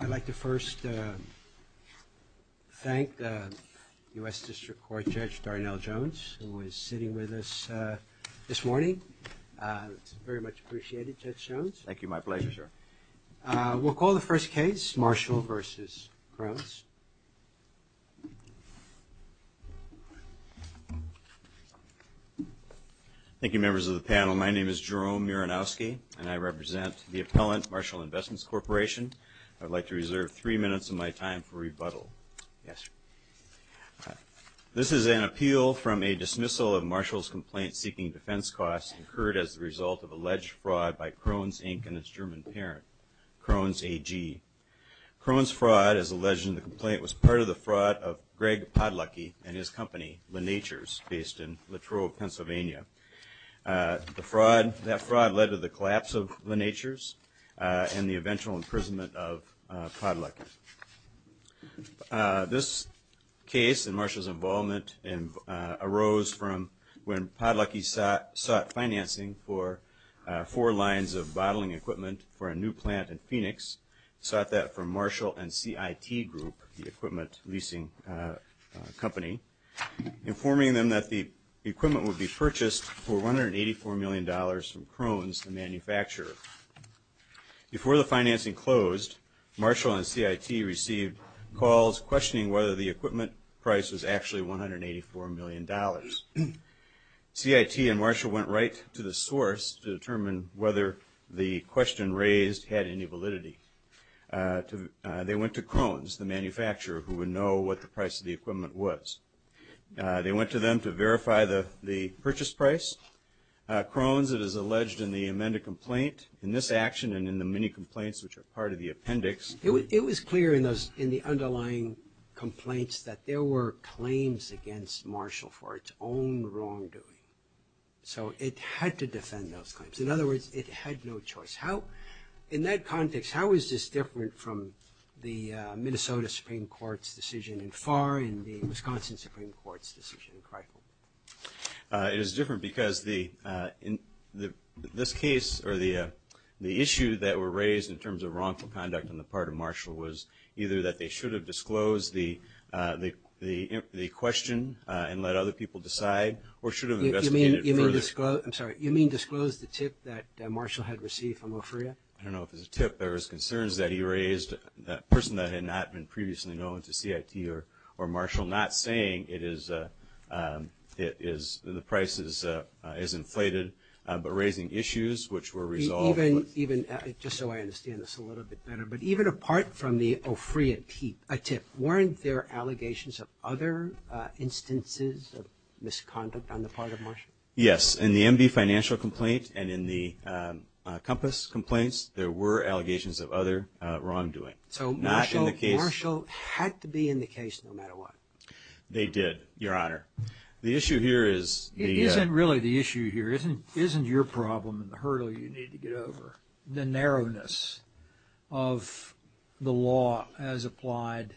I'd like to first thank U.S. District Court Judge Darnell Jones, who is sitting with us this morning. It's very much appreciated, Judge Jones. Thank you. My pleasure, sir. We'll call the first case, Marshall v. Krones. Thank you, members of the panel. My name is Jerome Muranowski, and I represent the appellant, Marshall Investments Corporation. I'd like to reserve three minutes of my time for rebuttal. This is an appeal from a dismissal of Marshall's complaint seeking defense costs incurred as the result of alleged fraud by Krones, Inc. and its German parent, Krones AG. Krones' fraud, as alleged in the complaint, was part of the fraud of Greg Podlucky and his company, LeNatures, based in Latrobe, Pennsylvania. That fraud led to the collapse of LeNatures and the eventual imprisonment of Podlucky. This case and Marshall's involvement arose from when Podlucky sought financing for four lines of bottling equipment for a new plant in Phoenix, sought that from Marshall and Krones, the manufacturer. Before the financing closed, Marshall and CIT received calls questioning whether the equipment price was actually $184 million. CIT and Marshall went right to the source to determine whether the question raised had any validity. They went to Krones, the manufacturer, who would know what the price of the equipment was. They went to them to verify the purchase price. Krones, it is alleged in the amended complaint, in this action and in the many complaints which are part of the appendix. It was clear in the underlying complaints that there were claims against Marshall for its own wrongdoing. So it had to defend those claims. In other words, it had no choice. In that context, how is this different from the Minnesota Supreme Court's decision in Farr and the Wisconsin Supreme Court's decision in Crickle? It is different because the issue that were raised in terms of wrongful conduct on the part of Marshall was either that they should have disclosed the question and let other people decide or should have investigated it further. You mean disclosed the tip that Marshall had received from OFRIA? I don't know if it was a tip, there was concerns that he raised, a person that had not been previously known to CIT or Marshall, not saying the price is inflated, but raising issues which were resolved. Even, just so I understand this a little bit better, but even apart from the OFRIA tip, weren't there allegations of other instances of misconduct on the part of Marshall? Yes, in the MB financial complaint and in the COMPASS complaints, there were allegations of other wrongdoing. So Marshall had to be in the case no matter what? They did, Your Honor. The issue here is... It isn't really the issue here, it isn't your problem and the hurdle you need to get over. The narrowness of the law as applied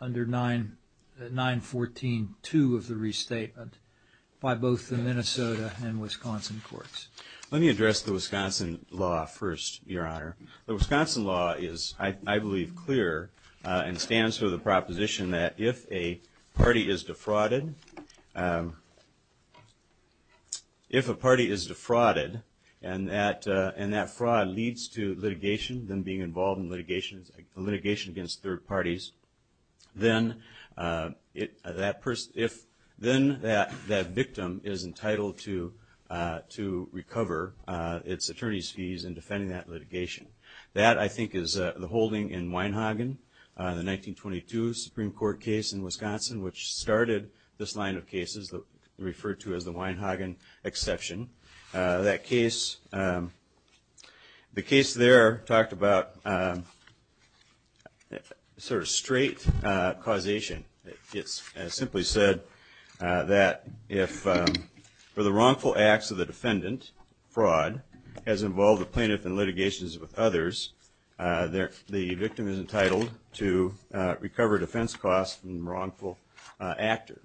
under 914.2 of the restatement by both the Minnesota and Wisconsin courts. Let me address the Wisconsin law first, Your Honor. The Wisconsin law is, I believe, clear and stands for the proposition that if a party is defrauded, if a party is defrauded and that fraud leads to litigation, them being involved in litigation against third parties, then that victim is entitled to recover its attorney's fees in defending that litigation. That I think is the holding in Wienhagen, the 1922 Supreme Court case in Wisconsin, which started this line of cases referred to as the Wienhagen exception. That case, the case there talked about sort of straight causation. It simply said that if the wrongful acts of the defendant, fraud, has involved the plaintiff in litigation with others, the victim is entitled to recover defense costs from the wrongful actor.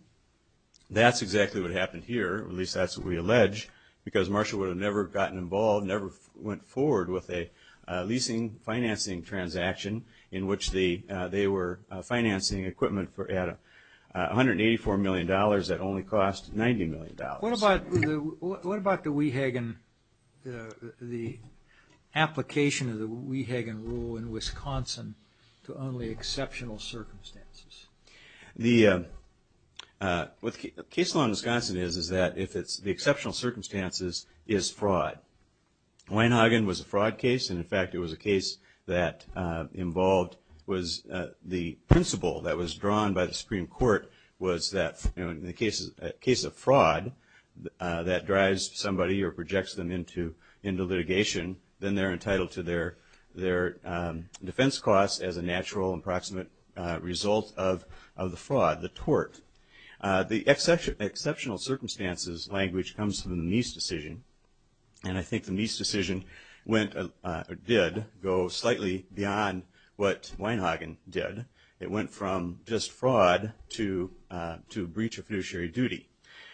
That's exactly what happened here, at least that's what we allege, because Marshall would have never gotten involved, never went forward with a leasing financing transaction in which they were financing equipment at $184 million that only cost $90 million. What about the Wehagen, the application of the Wehagen rule in Wisconsin to only exceptional circumstances? The case law in Wisconsin is that if it's the exceptional circumstances is fraud. Wienhagen was a fraud case, and in fact it was a case that involved, was the principle that was drawn by the Supreme Court was that in the case of fraud, that drives somebody or projects them into litigation, then they're entitled to their defense costs as a natural and proximate result of the fraud, the tort. The exceptional circumstances language comes from the Meese decision, and I think the Meese decision went, or did, go slightly beyond what Wienhagen did. It went from just fraud to breach of fiduciary duty,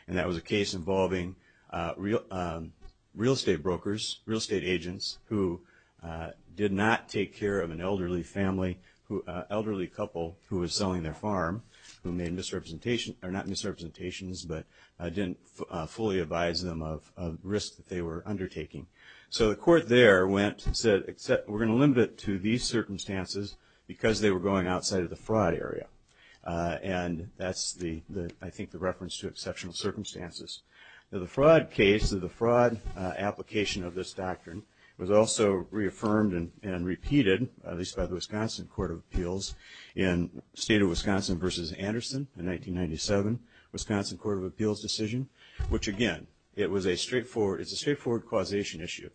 and that was a case involving real estate brokers, real estate agents, who did not take care of an elderly family, elderly couple who was selling their farm, who made misrepresentations, or not misrepresentations, but didn't fully advise them of risk that they were undertaking. So the court there went and said, we're going to limit it to these circumstances because they were going outside of the fraud area. And that's the, I think, the reference to exceptional circumstances. The fraud case, the fraud application of this doctrine was also reaffirmed and repeated, at least by the Wisconsin Court of Appeals in State of Wisconsin versus Anderson in 1997, Wisconsin Court of Appeals decision, which again, it was a straightforward, it's a straightforward causation issue.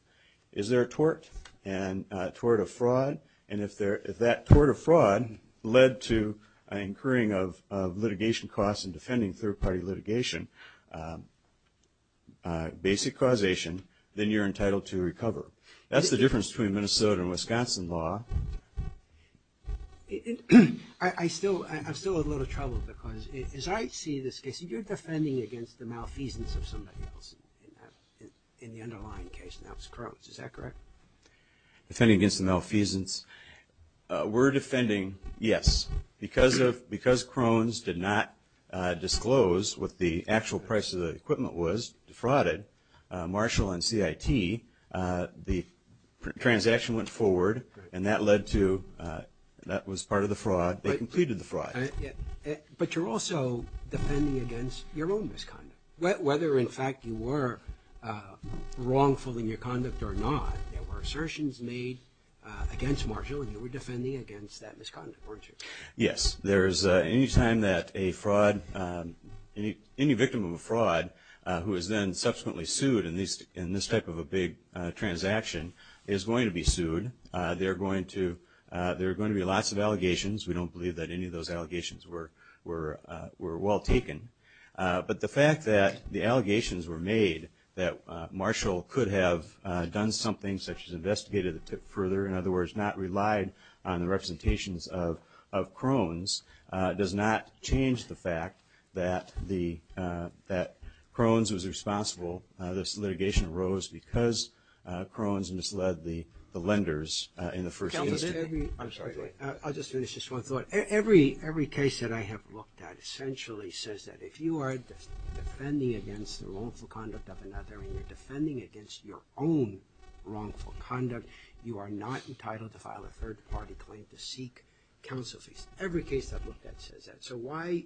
Is there a tort, and tort of fraud, and if that tort of fraud led to incurring of litigation costs and defending third party litigation, basic causation, then you're entitled to recover. That's the difference between Minnesota and Wisconsin law. I still, I'm still in a little trouble because as I see this case, you're defending against the malfeasance of somebody else in the underlying case, and that was Crohn's, is that correct? Defending against the malfeasance, we're defending, yes, because Crohn's did not disclose what the actual price of the equipment was, defrauded, Marshall and CIT, the transaction went forward, and that led to, that was part of the fraud, they completed the fraud. But you're also defending against your own misconduct, whether in fact you were wrongful in your conduct or not, there were assertions made against Marshall and you were defending against that misconduct, weren't you? Yes, there is any time that a fraud, any victim of a fraud who is then subsequently sued in this type of a big transaction is going to be sued, there are going to be lots of allegations, we don't believe that any of those allegations were well taken. But the fact that the allegations were made that Marshall could have done something such of Crohn's does not change the fact that the, that Crohn's was responsible, this litigation arose because Crohn's misled the lenders in the first instance. I'm sorry, I'll just finish this one thought, every case that I have looked at essentially says that if you are defending against the wrongful conduct of another and you're defending against your own wrongful conduct, you are not entitled to file a third party claim to counsel, every case I've looked at says that, so why,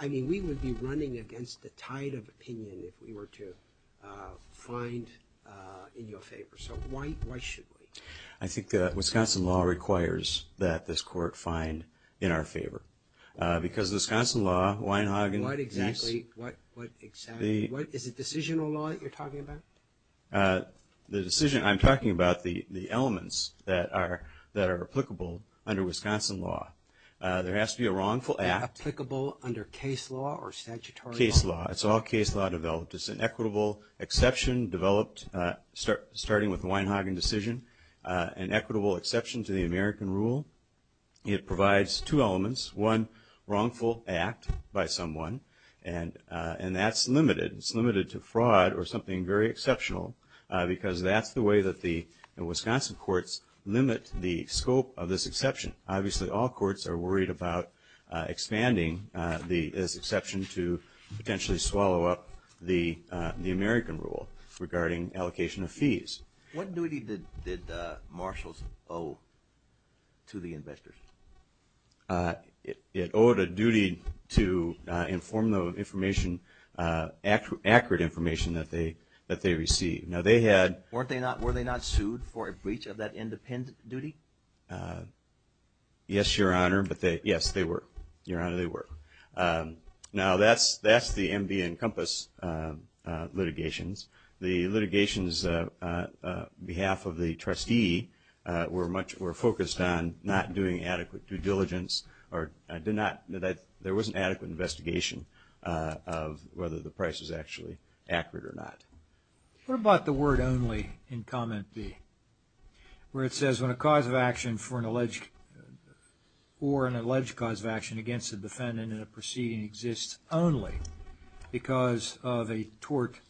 I mean we would be running against the tide of opinion if we were to find in your favor, so why should we? I think that Wisconsin law requires that this court find in our favor, because the Wisconsin law, Weinhagen, what exactly, is it decisional law that you're talking about? The decision, I'm talking about the elements that are applicable under Wisconsin law. There has to be a wrongful act. Applicable under case law or statutory law? Case law, it's all case law developed, it's an equitable exception developed starting with the Weinhagen decision, an equitable exception to the American rule. It provides two elements, one, wrongful act by someone, and that's limited, it's limited to fraud or something very exceptional, because that's the way that the Wisconsin courts limit the scope of this exception. Obviously all courts are worried about expanding this exception to potentially swallow up the American rule regarding allocation of fees. What duty did Marshalls owe to the investors? It owed a duty to inform the information, accurate information that they received. Now they had- Weren't they not, were they not sued for a breach of that independent duty? Yes, your honor, but they, yes, they were, your honor, they were. Now that's the MB and Compass litigations. The litigations on behalf of the trustee were much, were focused on not doing adequate due diligence or did not, there wasn't adequate investigation of whether the price was actually accurate or not. What about the word only in comment B, where it says when a cause of action for an alleged or an alleged cause of action against a defendant in a proceeding exists only because of a tort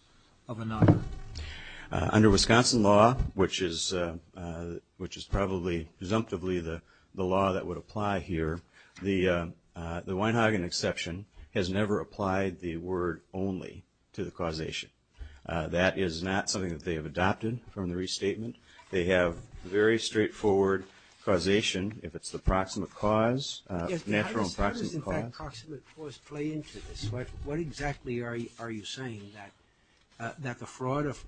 of another? Under Wisconsin law, which is probably presumptively the law that would apply here, the Weinhagen exception has never applied the word only to the causation. That is not something that they have adopted from the restatement. They have very straightforward causation if it's the proximate cause, natural and proximate cause. How does in fact proximate cause play into this? What exactly are you saying that, that the fraud of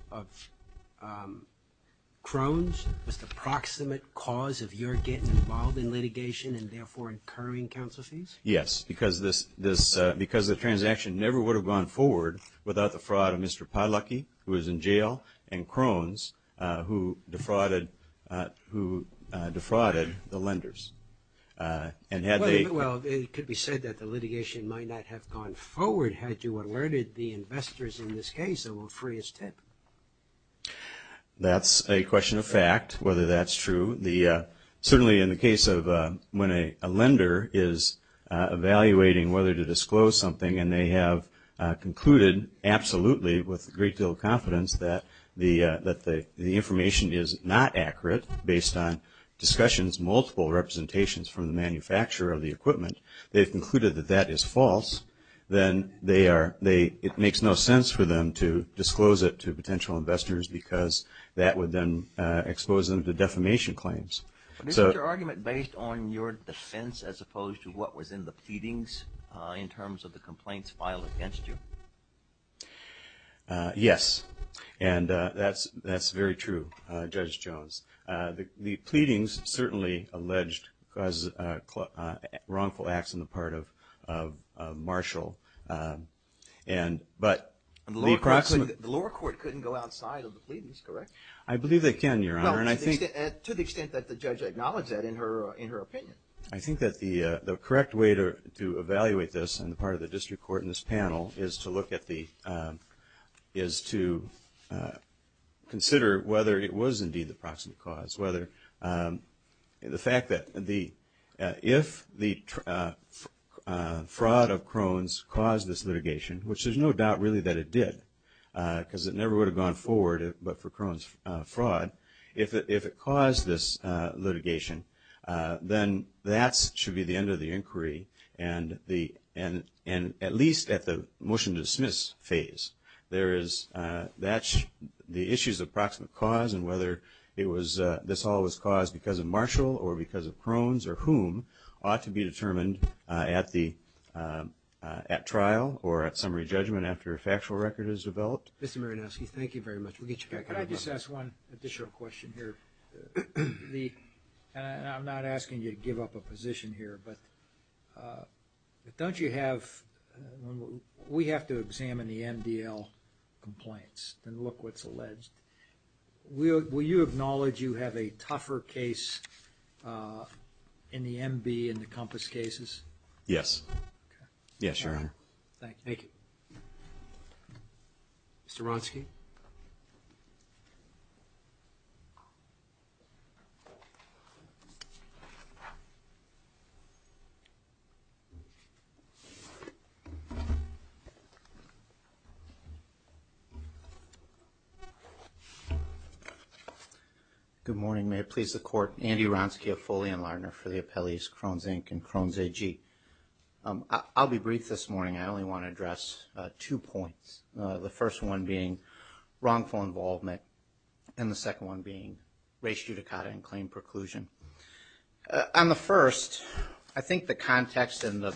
Krohn's was the proximate cause of your getting involved in litigation and therefore incurring counsel fees? Yes, because this, this, because the transaction never would have gone forward without the fraud of Mr. Pylecki, who was in jail, and Krohn's, who defrauded, who defrauded the lenders. Well, it could be said that the litigation might not have gone forward had you alerted the investors in this case that will free his tip. That's a question of fact, whether that's true. Certainly in the case of when a lender is evaluating whether to disclose something and they have concluded absolutely with a great deal of confidence that the information is not accurate based on discussions, multiple representations from the manufacturer of the equipment, they've concluded that that is false, then they are, they, it makes no sense for them to disclose it to potential investors because that would then expose them to defamation claims. Is your argument based on your defense as opposed to what was in the pleadings in terms of the complaints filed against you? Yes. And that's, that's very true, Judge Jones. The pleadings certainly alleged wrongful acts on the part of Marshall, and, but the approximate The lower court couldn't go outside of the pleadings, correct? I believe they can, Your Honor, and I think Well, to the extent that the judge acknowledged that in her, in her opinion. I think that the correct way to evaluate this on the part of the district court in this is to consider whether it was indeed the proximate cause, whether the fact that the, if the fraud of Krohn's caused this litigation, which there's no doubt really that it did because it never would have gone forward, but for Krohn's fraud, if it, if it caused this litigation, then that should be the end of the inquiry and the, and, and at least at the motion to dismiss phase, there is, that's the issues of proximate cause and whether it was, this all was caused because of Marshall or because of Krohn's or whom ought to be determined at the, at trial or at summary judgment after a factual record is developed. Mr. Marinowski, thank you very much. We'll get you back. Can I just ask one additional question here? The, and I'm not asking you to give up a position here, but don't you have, we have to examine the MDL complaints and look what's alleged. Will you acknowledge you have a tougher case in the MB and the Compass cases? Yes. Okay. Yes, Your Honor. Thank you. Thank you. Mr. Ronski. Good morning, may it please the court, Andy Ronski, a Foley and Lardner for the appellees Krohn's Inc. and Krohn's AG. I'll be brief this morning. I only want to address two points, the first one being wrongful involvement and the second one being race judicata and claim preclusion. On the first, I think the context and the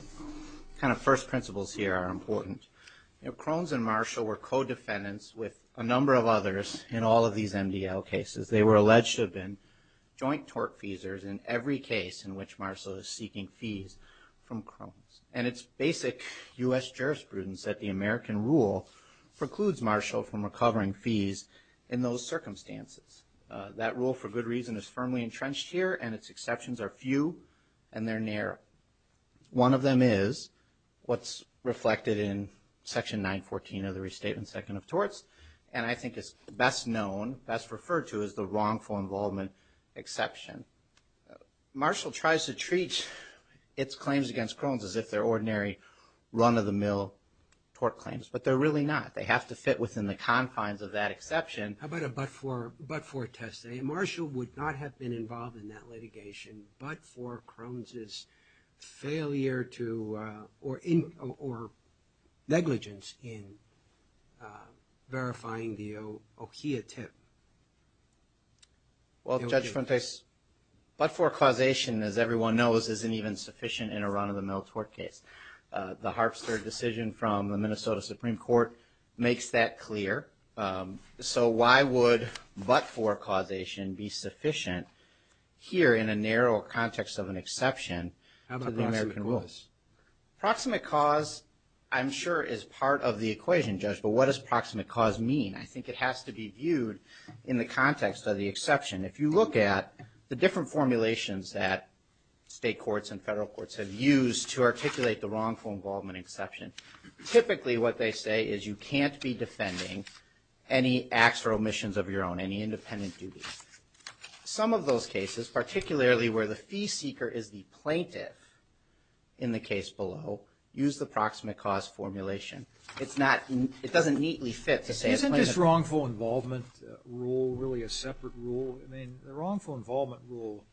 kind of first principles here are important. You know, Krohn's and Marshall were co-defendants with a number of others in all of these MDL cases. They were alleged to have been joint tort feasors in every case in which Marshall is seeking fees from Krohn's. And it's basic U.S. jurisprudence that the American rule precludes Marshall from recovering fees in those circumstances. That rule, for good reason, is firmly entrenched here and its exceptions are few and they're narrow. One of them is what's reflected in Section 914 of the Restatement Second of Torts and I think it's best known, best referred to as the wrongful involvement exception. Marshall tries to treat its claims against Krohn's as if they're ordinary run-of-the-mill tort claims, but they're really not. They have to fit within the confines of that exception. How about a but-for test? Marshall would not have been involved in that litigation but for Krohn's' failure to or negligence in verifying the Okiya tip. Well, Judge Fuentes, but-for causation, as everyone knows, isn't even sufficient in a run-of-the-mill tort case. The Harpster decision from the Minnesota Supreme Court makes that clear. So why would but-for causation be sufficient here in a narrow context of an exception to the American rules? How about proximate cause? Proximate cause, I'm sure, is part of the equation, Judge, but what does proximate cause mean? I think it has to be viewed in the context of the exception. If you look at the different formulations that state courts and federal courts have used to articulate the wrongful involvement exception, typically what they say is you can't be defending any acts or omissions of your own, any independent duty. Some of those cases, particularly where the fee seeker is the plaintiff in the case below, use the proximate cause formulation. Is this wrongful involvement rule really a separate rule? I mean, the wrongful involvement rule,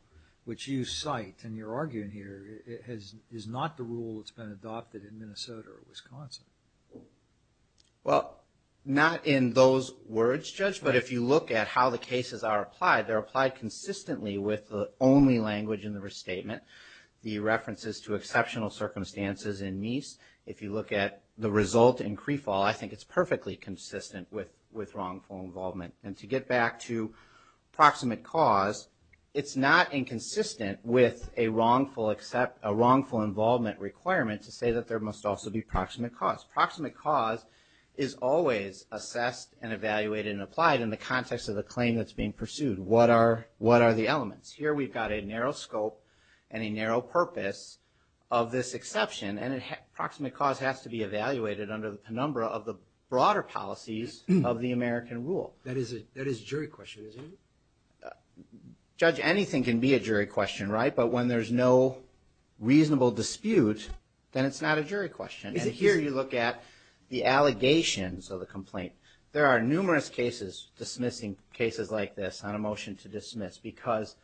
which you cite and you're arguing here, is not the rule that's been adopted in Minnesota or Wisconsin. Well, not in those words, Judge, but if you look at how the cases are applied, they're applied consistently with the only language in the restatement, the references to exceptional circumstances in Meese. If you look at the result in CREFAL, I think it's perfectly consistent with wrongful involvement. And to get back to proximate cause, it's not inconsistent with a wrongful involvement requirement to say that there must also be proximate cause. Proximate cause is always assessed and evaluated and applied in the context of the claim that's being pursued. What are the elements? Here we've got a narrow scope and a narrow purpose of this exception, and proximate cause has to be evaluated under the penumbra of the broader policies of the American rule. That is a jury question, isn't it? Judge, anything can be a jury question, right? But when there's no reasonable dispute, then it's not a jury question. And here you look at the allegations of the complaint. There are numerous cases dismissing cases like this on a motion to dismiss, because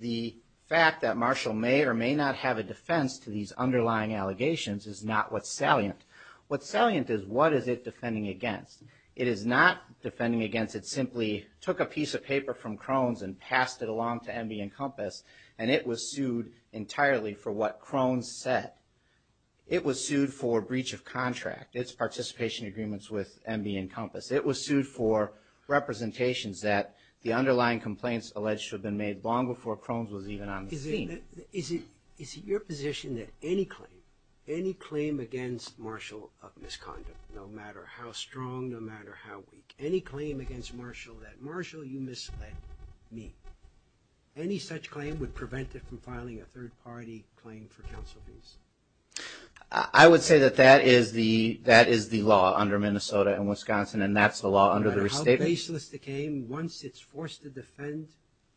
the fact that Marshall may or may not have a defense to these underlying allegations is not what's salient. What's salient is what is it defending against. It is not defending against it simply took a piece of paper from Crone's and passed it along to Enby and Compass, and it was sued entirely for what Crone said. It was sued for breach of contract, its participation agreements with Enby and Compass. It was sued for representations that the underlying complaints alleged to have been made long before Crone was even on the scene. Is it your position that any claim, any claim against Marshall of misconduct, no matter how strong, no matter how weak, any claim against Marshall that, Marshall, you misled me, any such claim would prevent it from filing a third-party claim for counsel, please? I would say that that is the law under Minnesota and Wisconsin, and that's the law under the No matter how baseless the claim, once it's forced to defend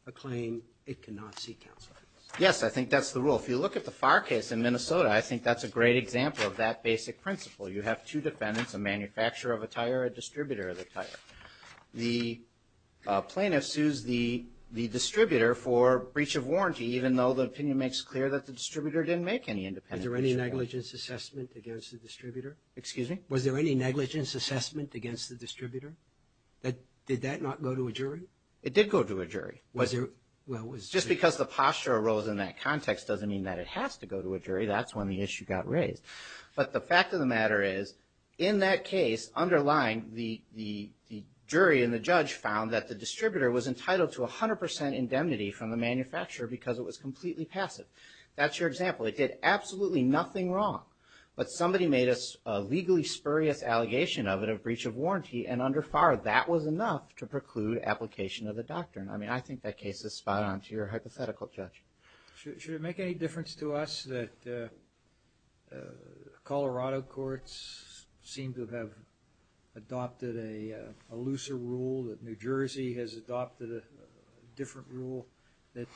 a claim, it cannot seek counsel. Yes, I think that's the rule. If you look at the Farr case in Minnesota, I think that's a great example of that basic principle. You have two defendants, a manufacturer of a tire, a distributor of the tire. The plaintiff sues the distributor for breach of warranty, even though the opinion makes clear that the distributor didn't make any independence. Was there any negligence assessment against the distributor? Excuse me? Was there any negligence assessment against the distributor? Did that not go to a jury? It did go to a jury. Was there? Well, was there? Just because the posture arose in that context doesn't mean that it has to go to a jury. That's when the issue got raised. But the fact of the matter is, in that case, underlying, the jury and the judge found that the distributor was entitled to 100 percent indemnity from the manufacturer because it was completely passive. That's your example. It did absolutely nothing wrong. But somebody made a legally spurious allegation of it, a breach of warranty, and under Farr, that was enough to preclude application of the doctrine. I mean, I think that case is spot on to your hypothetical, Judge. Should it make any difference to us that Colorado courts seem to have adopted a looser rule, that New Jersey has adopted a different rule, that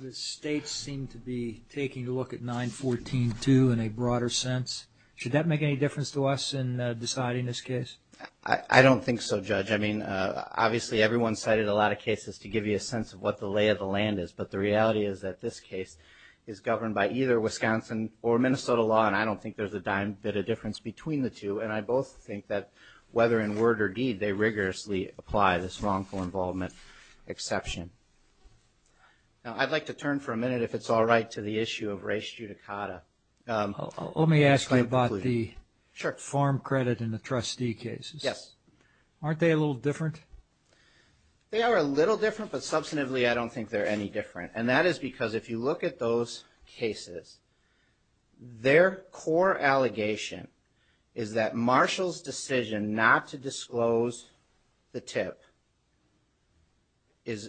the states seem to be taking a look at 914-2 in a broader sense? Should that make any difference to us in deciding this case? I don't think so, Judge. I mean, obviously, everyone cited a lot of cases to give you a sense of what the lay of the land is. But the reality is that this case is governed by either Wisconsin or Minnesota law, and I don't think there's a dime bit of difference between the two. And I both think that whether in word or deed, they rigorously apply this wrongful involvement exception. Now, I'd like to turn for a minute, if it's all right, to the issue of res judicata. Let me ask you about the farm credit and the trustee cases. Yes. Aren't they a little different? They are a little different, but substantively, I don't think they're any different. And that is because if you look at those cases, their core allegation is that Marshall's decision not to disclose the tip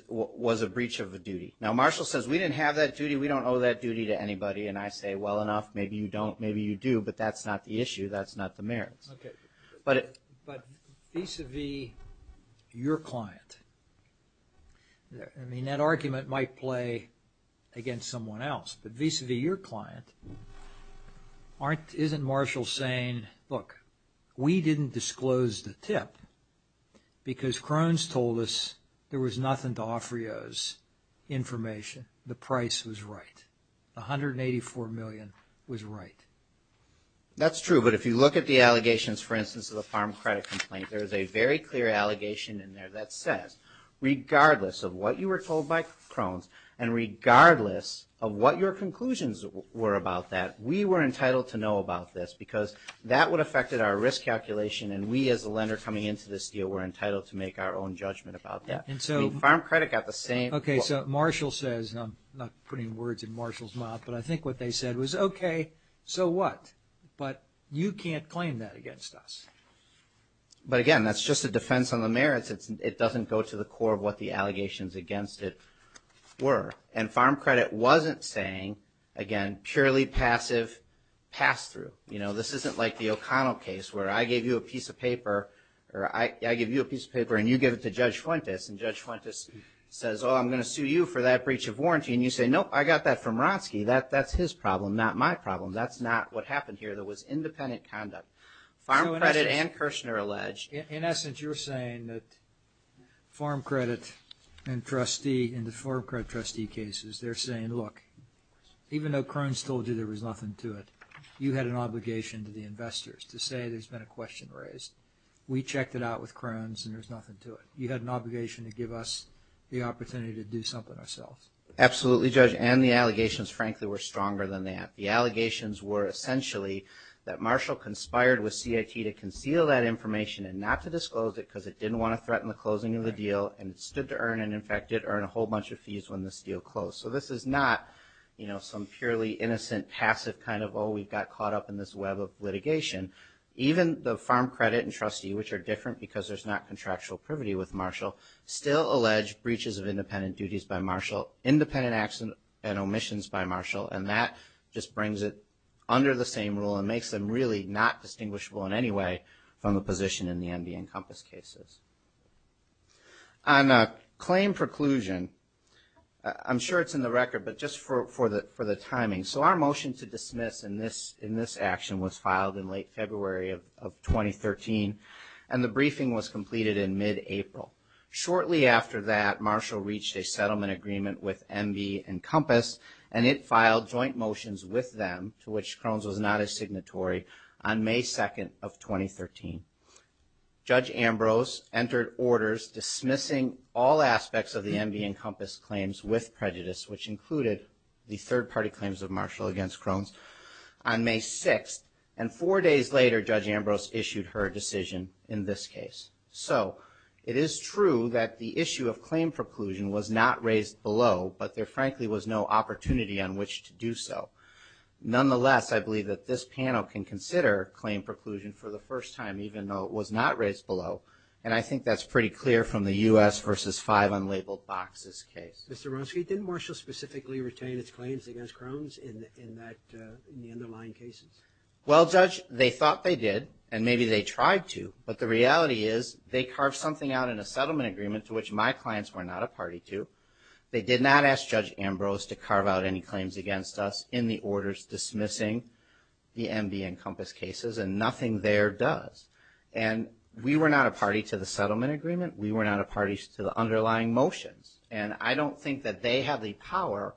was a breach of a duty. Now, Marshall says, we didn't have that duty. We don't owe that duty to anybody. And I say, well, enough. Maybe you don't. Maybe you do. But that's not the issue. That's not the merits. OK. But vis-a-vis your client, I mean, that argument might play against someone else. But vis-a-vis your client, isn't Marshall saying, look, we didn't disclose the tip because Crohn's told us there was nothing to offer you as information. The price was right. $184 million was right. That's true. But if you look at the allegations, for instance, of the farm credit complaint, there is a very clear allegation in there that says, regardless of what you were told by Crohn's and regardless of what your conclusions were about that, we were entitled to know about this because that would affect our risk calculation. And we, as a lender coming into this deal, were entitled to make our own judgment about that. And so farm credit got the same. OK. So Marshall says, and I'm not putting words in Marshall's mouth, but I think what they said was, OK, so what? But you can't claim that against us. But again, that's just a defense on the merits. It doesn't go to the core of what the allegations against it were. And farm credit wasn't saying, again, purely passive pass-through. You know, this isn't like the O'Connell case where I gave you a piece of paper or I give you a piece of paper and you give it to Judge Fuentes and Judge Fuentes says, oh, I'm going to sue you for that breach of warranty. And you say, nope, I got that from Roski. That's his problem, not my problem. That's not what happened here. There was independent conduct. Farm credit and Kirshner allege. In essence, you're saying that farm credit and trustee, in the farm credit trustee cases, they're saying, look, even though Crohn's told you there was nothing to it, you had an obligation to the investors to say there's been a question raised. We checked it out with Crohn's and there's nothing to it. You had an obligation to give us the opportunity to do something ourselves. Absolutely, Judge. And the allegations, frankly, were stronger than that. The allegations were essentially that Marshall conspired with CIT to conceal that information and not to disclose it because it didn't want to threaten the closing of the deal and it stood to earn and, in fact, did earn a whole bunch of fees when this deal closed. So this is not, you know, some purely innocent, passive kind of, oh, we got caught up in this web of litigation. Even the farm credit and trustee, which are different because there's not contractual privity with Marshall, still allege breaches of independent duties by Marshall, independent action and omissions by Marshall, and that just brings it under the same rule and makes them really not distinguishable in any way from the position in the MV and Compass cases. On claim preclusion, I'm sure it's in the record, but just for the timing. So our motion to dismiss in this action was filed in late February of 2013 and the briefing was completed in mid-April. Shortly after that, Marshall reached a settlement agreement with MV and Compass and it filed joint motions with them, to which Crohn's was not a signatory, on May 2nd of 2013. Judge Ambrose entered orders dismissing all aspects of the MV and Compass claims with prejudice, which included the third-party claims of Marshall against Crohn's, on May 6th. And four days later, Judge Ambrose issued her decision in this case. So it is true that the issue of claim preclusion was not raised below, but there frankly was no opportunity on which to do so. Nonetheless, I believe that this panel can consider claim preclusion for the first time, even though it was not raised below. And I think that's pretty clear from the U.S. versus five unlabeled boxes case. Mr. Ronski, didn't Marshall specifically retain its claims against Crohn's in the underlying cases? Well, Judge, they thought they did, and maybe they tried to, but the reality is they carved something out in a settlement agreement to which my clients were not a party to. They did not ask Judge Ambrose to carve out any claims against us in the orders dismissing the MV and Compass cases, and nothing there does. And we were not a party to the settlement agreement. We were not a party to the underlying motions. And I don't think that they have the power,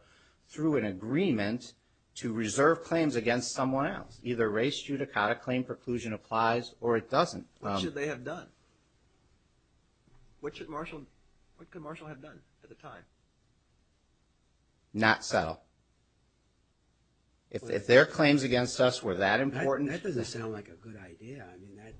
through an agreement, to reserve claims against someone else. Either raised judicata claim preclusion applies, or it doesn't. What should they have done? What should Marshall, what could Marshall have done at the time? Not settle. If their claims against us were that important. That doesn't sound like a good idea. I mean, that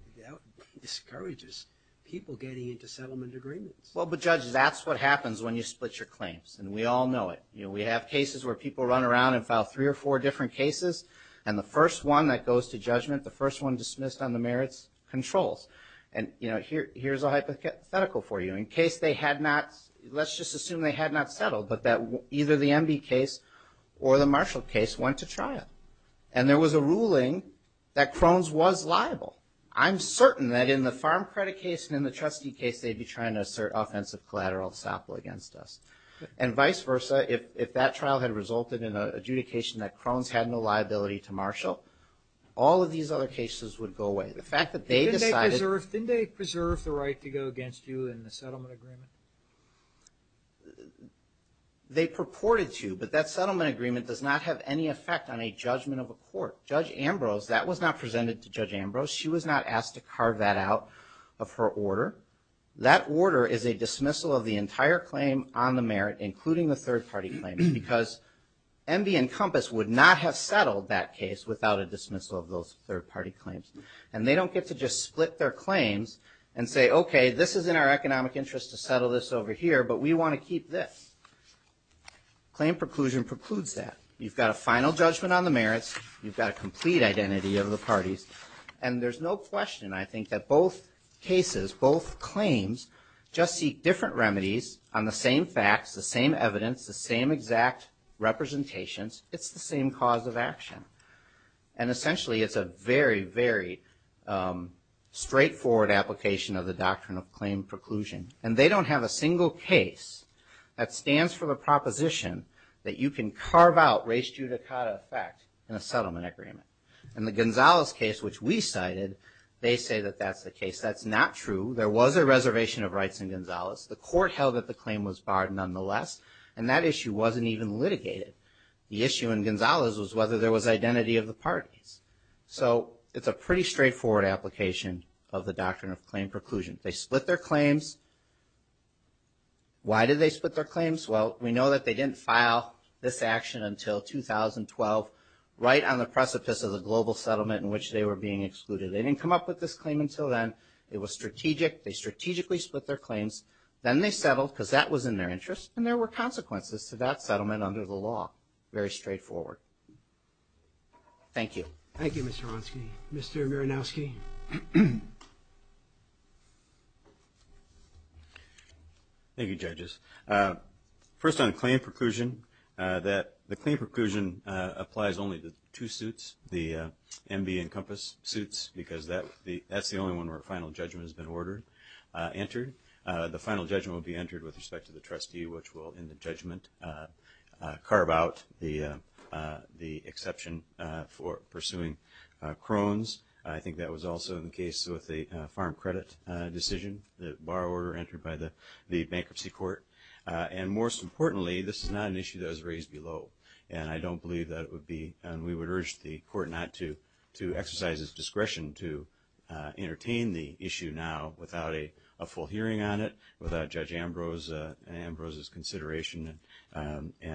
discourages people getting into settlement agreements. Well, but Judge, that's what happens when you split your claims, and we all know it. We have cases where people run around and file three or four different cases, and the first one that goes to judgment, the first one dismissed on the merits controls. And, you know, here's a hypothetical for you. In case they had not, let's just assume they had not settled, but that either the MV case or the Marshall case went to trial. And there was a ruling that Crohn's was liable. I'm certain that in the farm credit case and in the trustee case, they'd be trying to assert offensive collateral ensemble against us. And vice versa, if that trial had resulted in an adjudication that Crohn's had no liability to Marshall, all of these other cases would go away. The fact that they decided... Didn't they preserve the right to go against you in the settlement agreement? They purported to, but that settlement agreement does not have any effect on a judgment of a court. Judge Ambrose, that was not presented to Judge Ambrose. She was not asked to carve that out of her order. That order is a dismissal of the entire claim on the merit, including the third-party claims, because MV and Compass would not have settled that case without a dismissal of those third-party claims. And they don't get to just split their claims and say, okay, this is in our economic interest to settle this over here, but we want to keep this. Claim preclusion precludes that. You've got a final judgment on the merits. You've got a complete identity of the parties. And there's no question, I think, that both cases, both claims, just seek different remedies on the same facts, the same evidence, the same exact representations. It's the same cause of action. And essentially, it's a very, very straightforward application of the doctrine of claim preclusion. And they don't have a single case that stands for the proposition that you can carve out race judicata effect in a settlement agreement. In the Gonzales case, which we cited, they say that that's the case. That's not true. There was a reservation of rights in Gonzales. The court held that the claim was barred nonetheless, and that issue wasn't even litigated. The issue in Gonzales was whether there was identity of the parties. So it's a pretty straightforward application of the doctrine of claim preclusion. They split their claims. Why did they split their claims? Well, we know that they didn't file this action until 2012, right on the precipice of the global settlement in which they were being excluded. They didn't come up with this claim until then. It was strategic. They strategically split their claims. Then they settled, because that was in their interest. And there were consequences to that settlement under the law. Very straightforward. Thank you. Thank you, Mr. Hronsky. Mr. Miranowski? Thank you, judges. First on claim preclusion, the claim preclusion applies only to two suits, the MB and Compass suits, because that's the only one where a final judgment has been entered. The final judgment will be entered with respect to the trustee, which will, in the judgment, carve out the exception for pursuing Crohn's. I think that was also the case with the farm credit decision, the borrower entered by the bankruptcy court. And most importantly, this is not an issue that was raised below. And I don't believe that it would be, and we would urge the court not to exercise its discretion to entertain the issue now without a full hearing on it, without Judge Ambrose's consideration,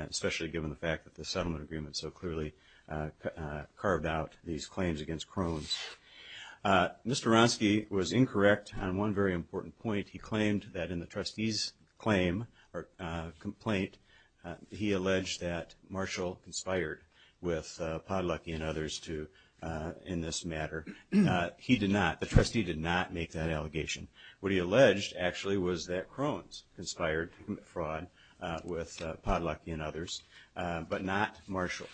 especially given the fact that the settlement agreement so clearly carved out these claims against Crohn's. Mr. Hronsky was incorrect on one very important point. He claimed that in the trustee's complaint, he alleged that Marshall conspired with Podolaki and others in this matter. He did not. The trustee did not make that allegation. What he alleged, actually, was that Crohn's conspired to commit fraud with Podolaki and others, but not Marshall.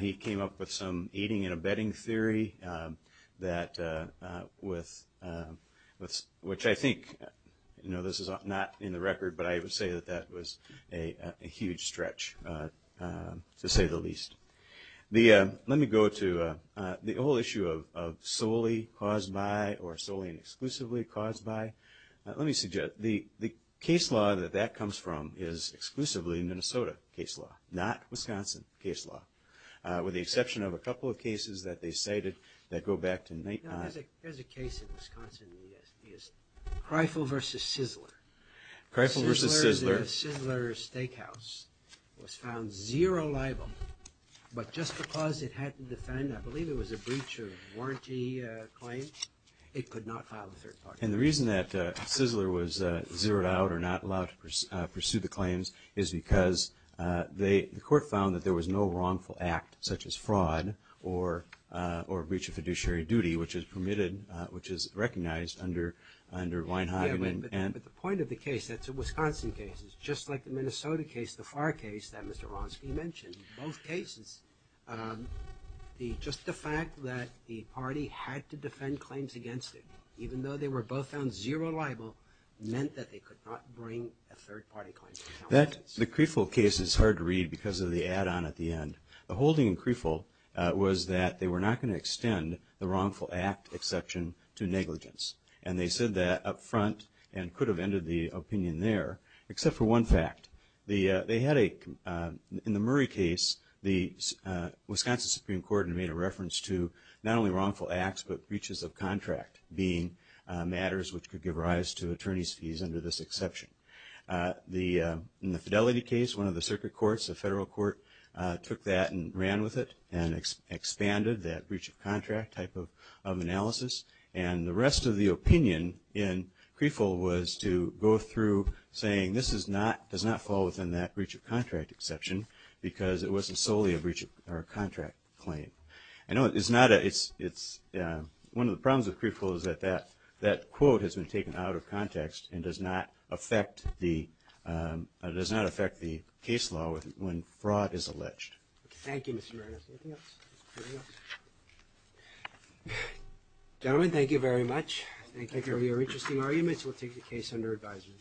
He came up with some aiding and abetting theory, which I think, you know, this is not in the record, but I would say that that was a huge stretch, to say the least. Let me go to the whole issue of solely caused by or solely and exclusively caused by. Let me suggest, the case law that that comes from is exclusively Minnesota case law, not Wisconsin case law, with the exception of a couple of cases that they cited that go back to 1990. There's a case in Wisconsin, and it is Kreifel v. Sizzler. Kreifel v. Sizzler. Sizzler's Steakhouse was found zero liable, but just because it had to defend, I believe it was a breach of warranty claim, it could not file the third part. And the reason that Sizzler was zeroed out or not allowed to pursue the claims is because the court found that there was no wrongful act, such as fraud or breach of fiduciary duty, which is permitted, which is recognized under Weinheim. Yeah, but the point of the case, that's a Wisconsin case. Just like the Minnesota case, the Farr case that Mr. Ronski mentioned, both cases, just the fact that the party had to defend claims against it, even though they were both found zero liable, meant that they could not bring a third party claim. The Kreifel case is hard to read because of the add-on at the end. The holding in Kreifel was that they were not going to extend the wrongful act exception to negligence. And they said that up front and could have ended the opinion there, except for one fact. In the Murray case, the Wisconsin Supreme Court made a reference to not only wrongful acts, but breaches of contract being matters which could give rise to attorney's fees under this exception. In the Fidelity case, one of the circuit courts, the federal court took that and ran with it and expanded that breach of contract type of analysis. And the rest of the opinion in Kreifel was to go through saying this does not fall within that breach of contract exception because it wasn't solely a breach of contract claim. I know it's not a – it's – one of the problems with Kreifel is that that quote has been taken out of context and does not affect the – does not affect the case law when fraud is alleged. Thank you, Mr. Marinas. Anything else? Gentlemen, thank you very much. Thank you for your interesting arguments. We'll take the case under advisement.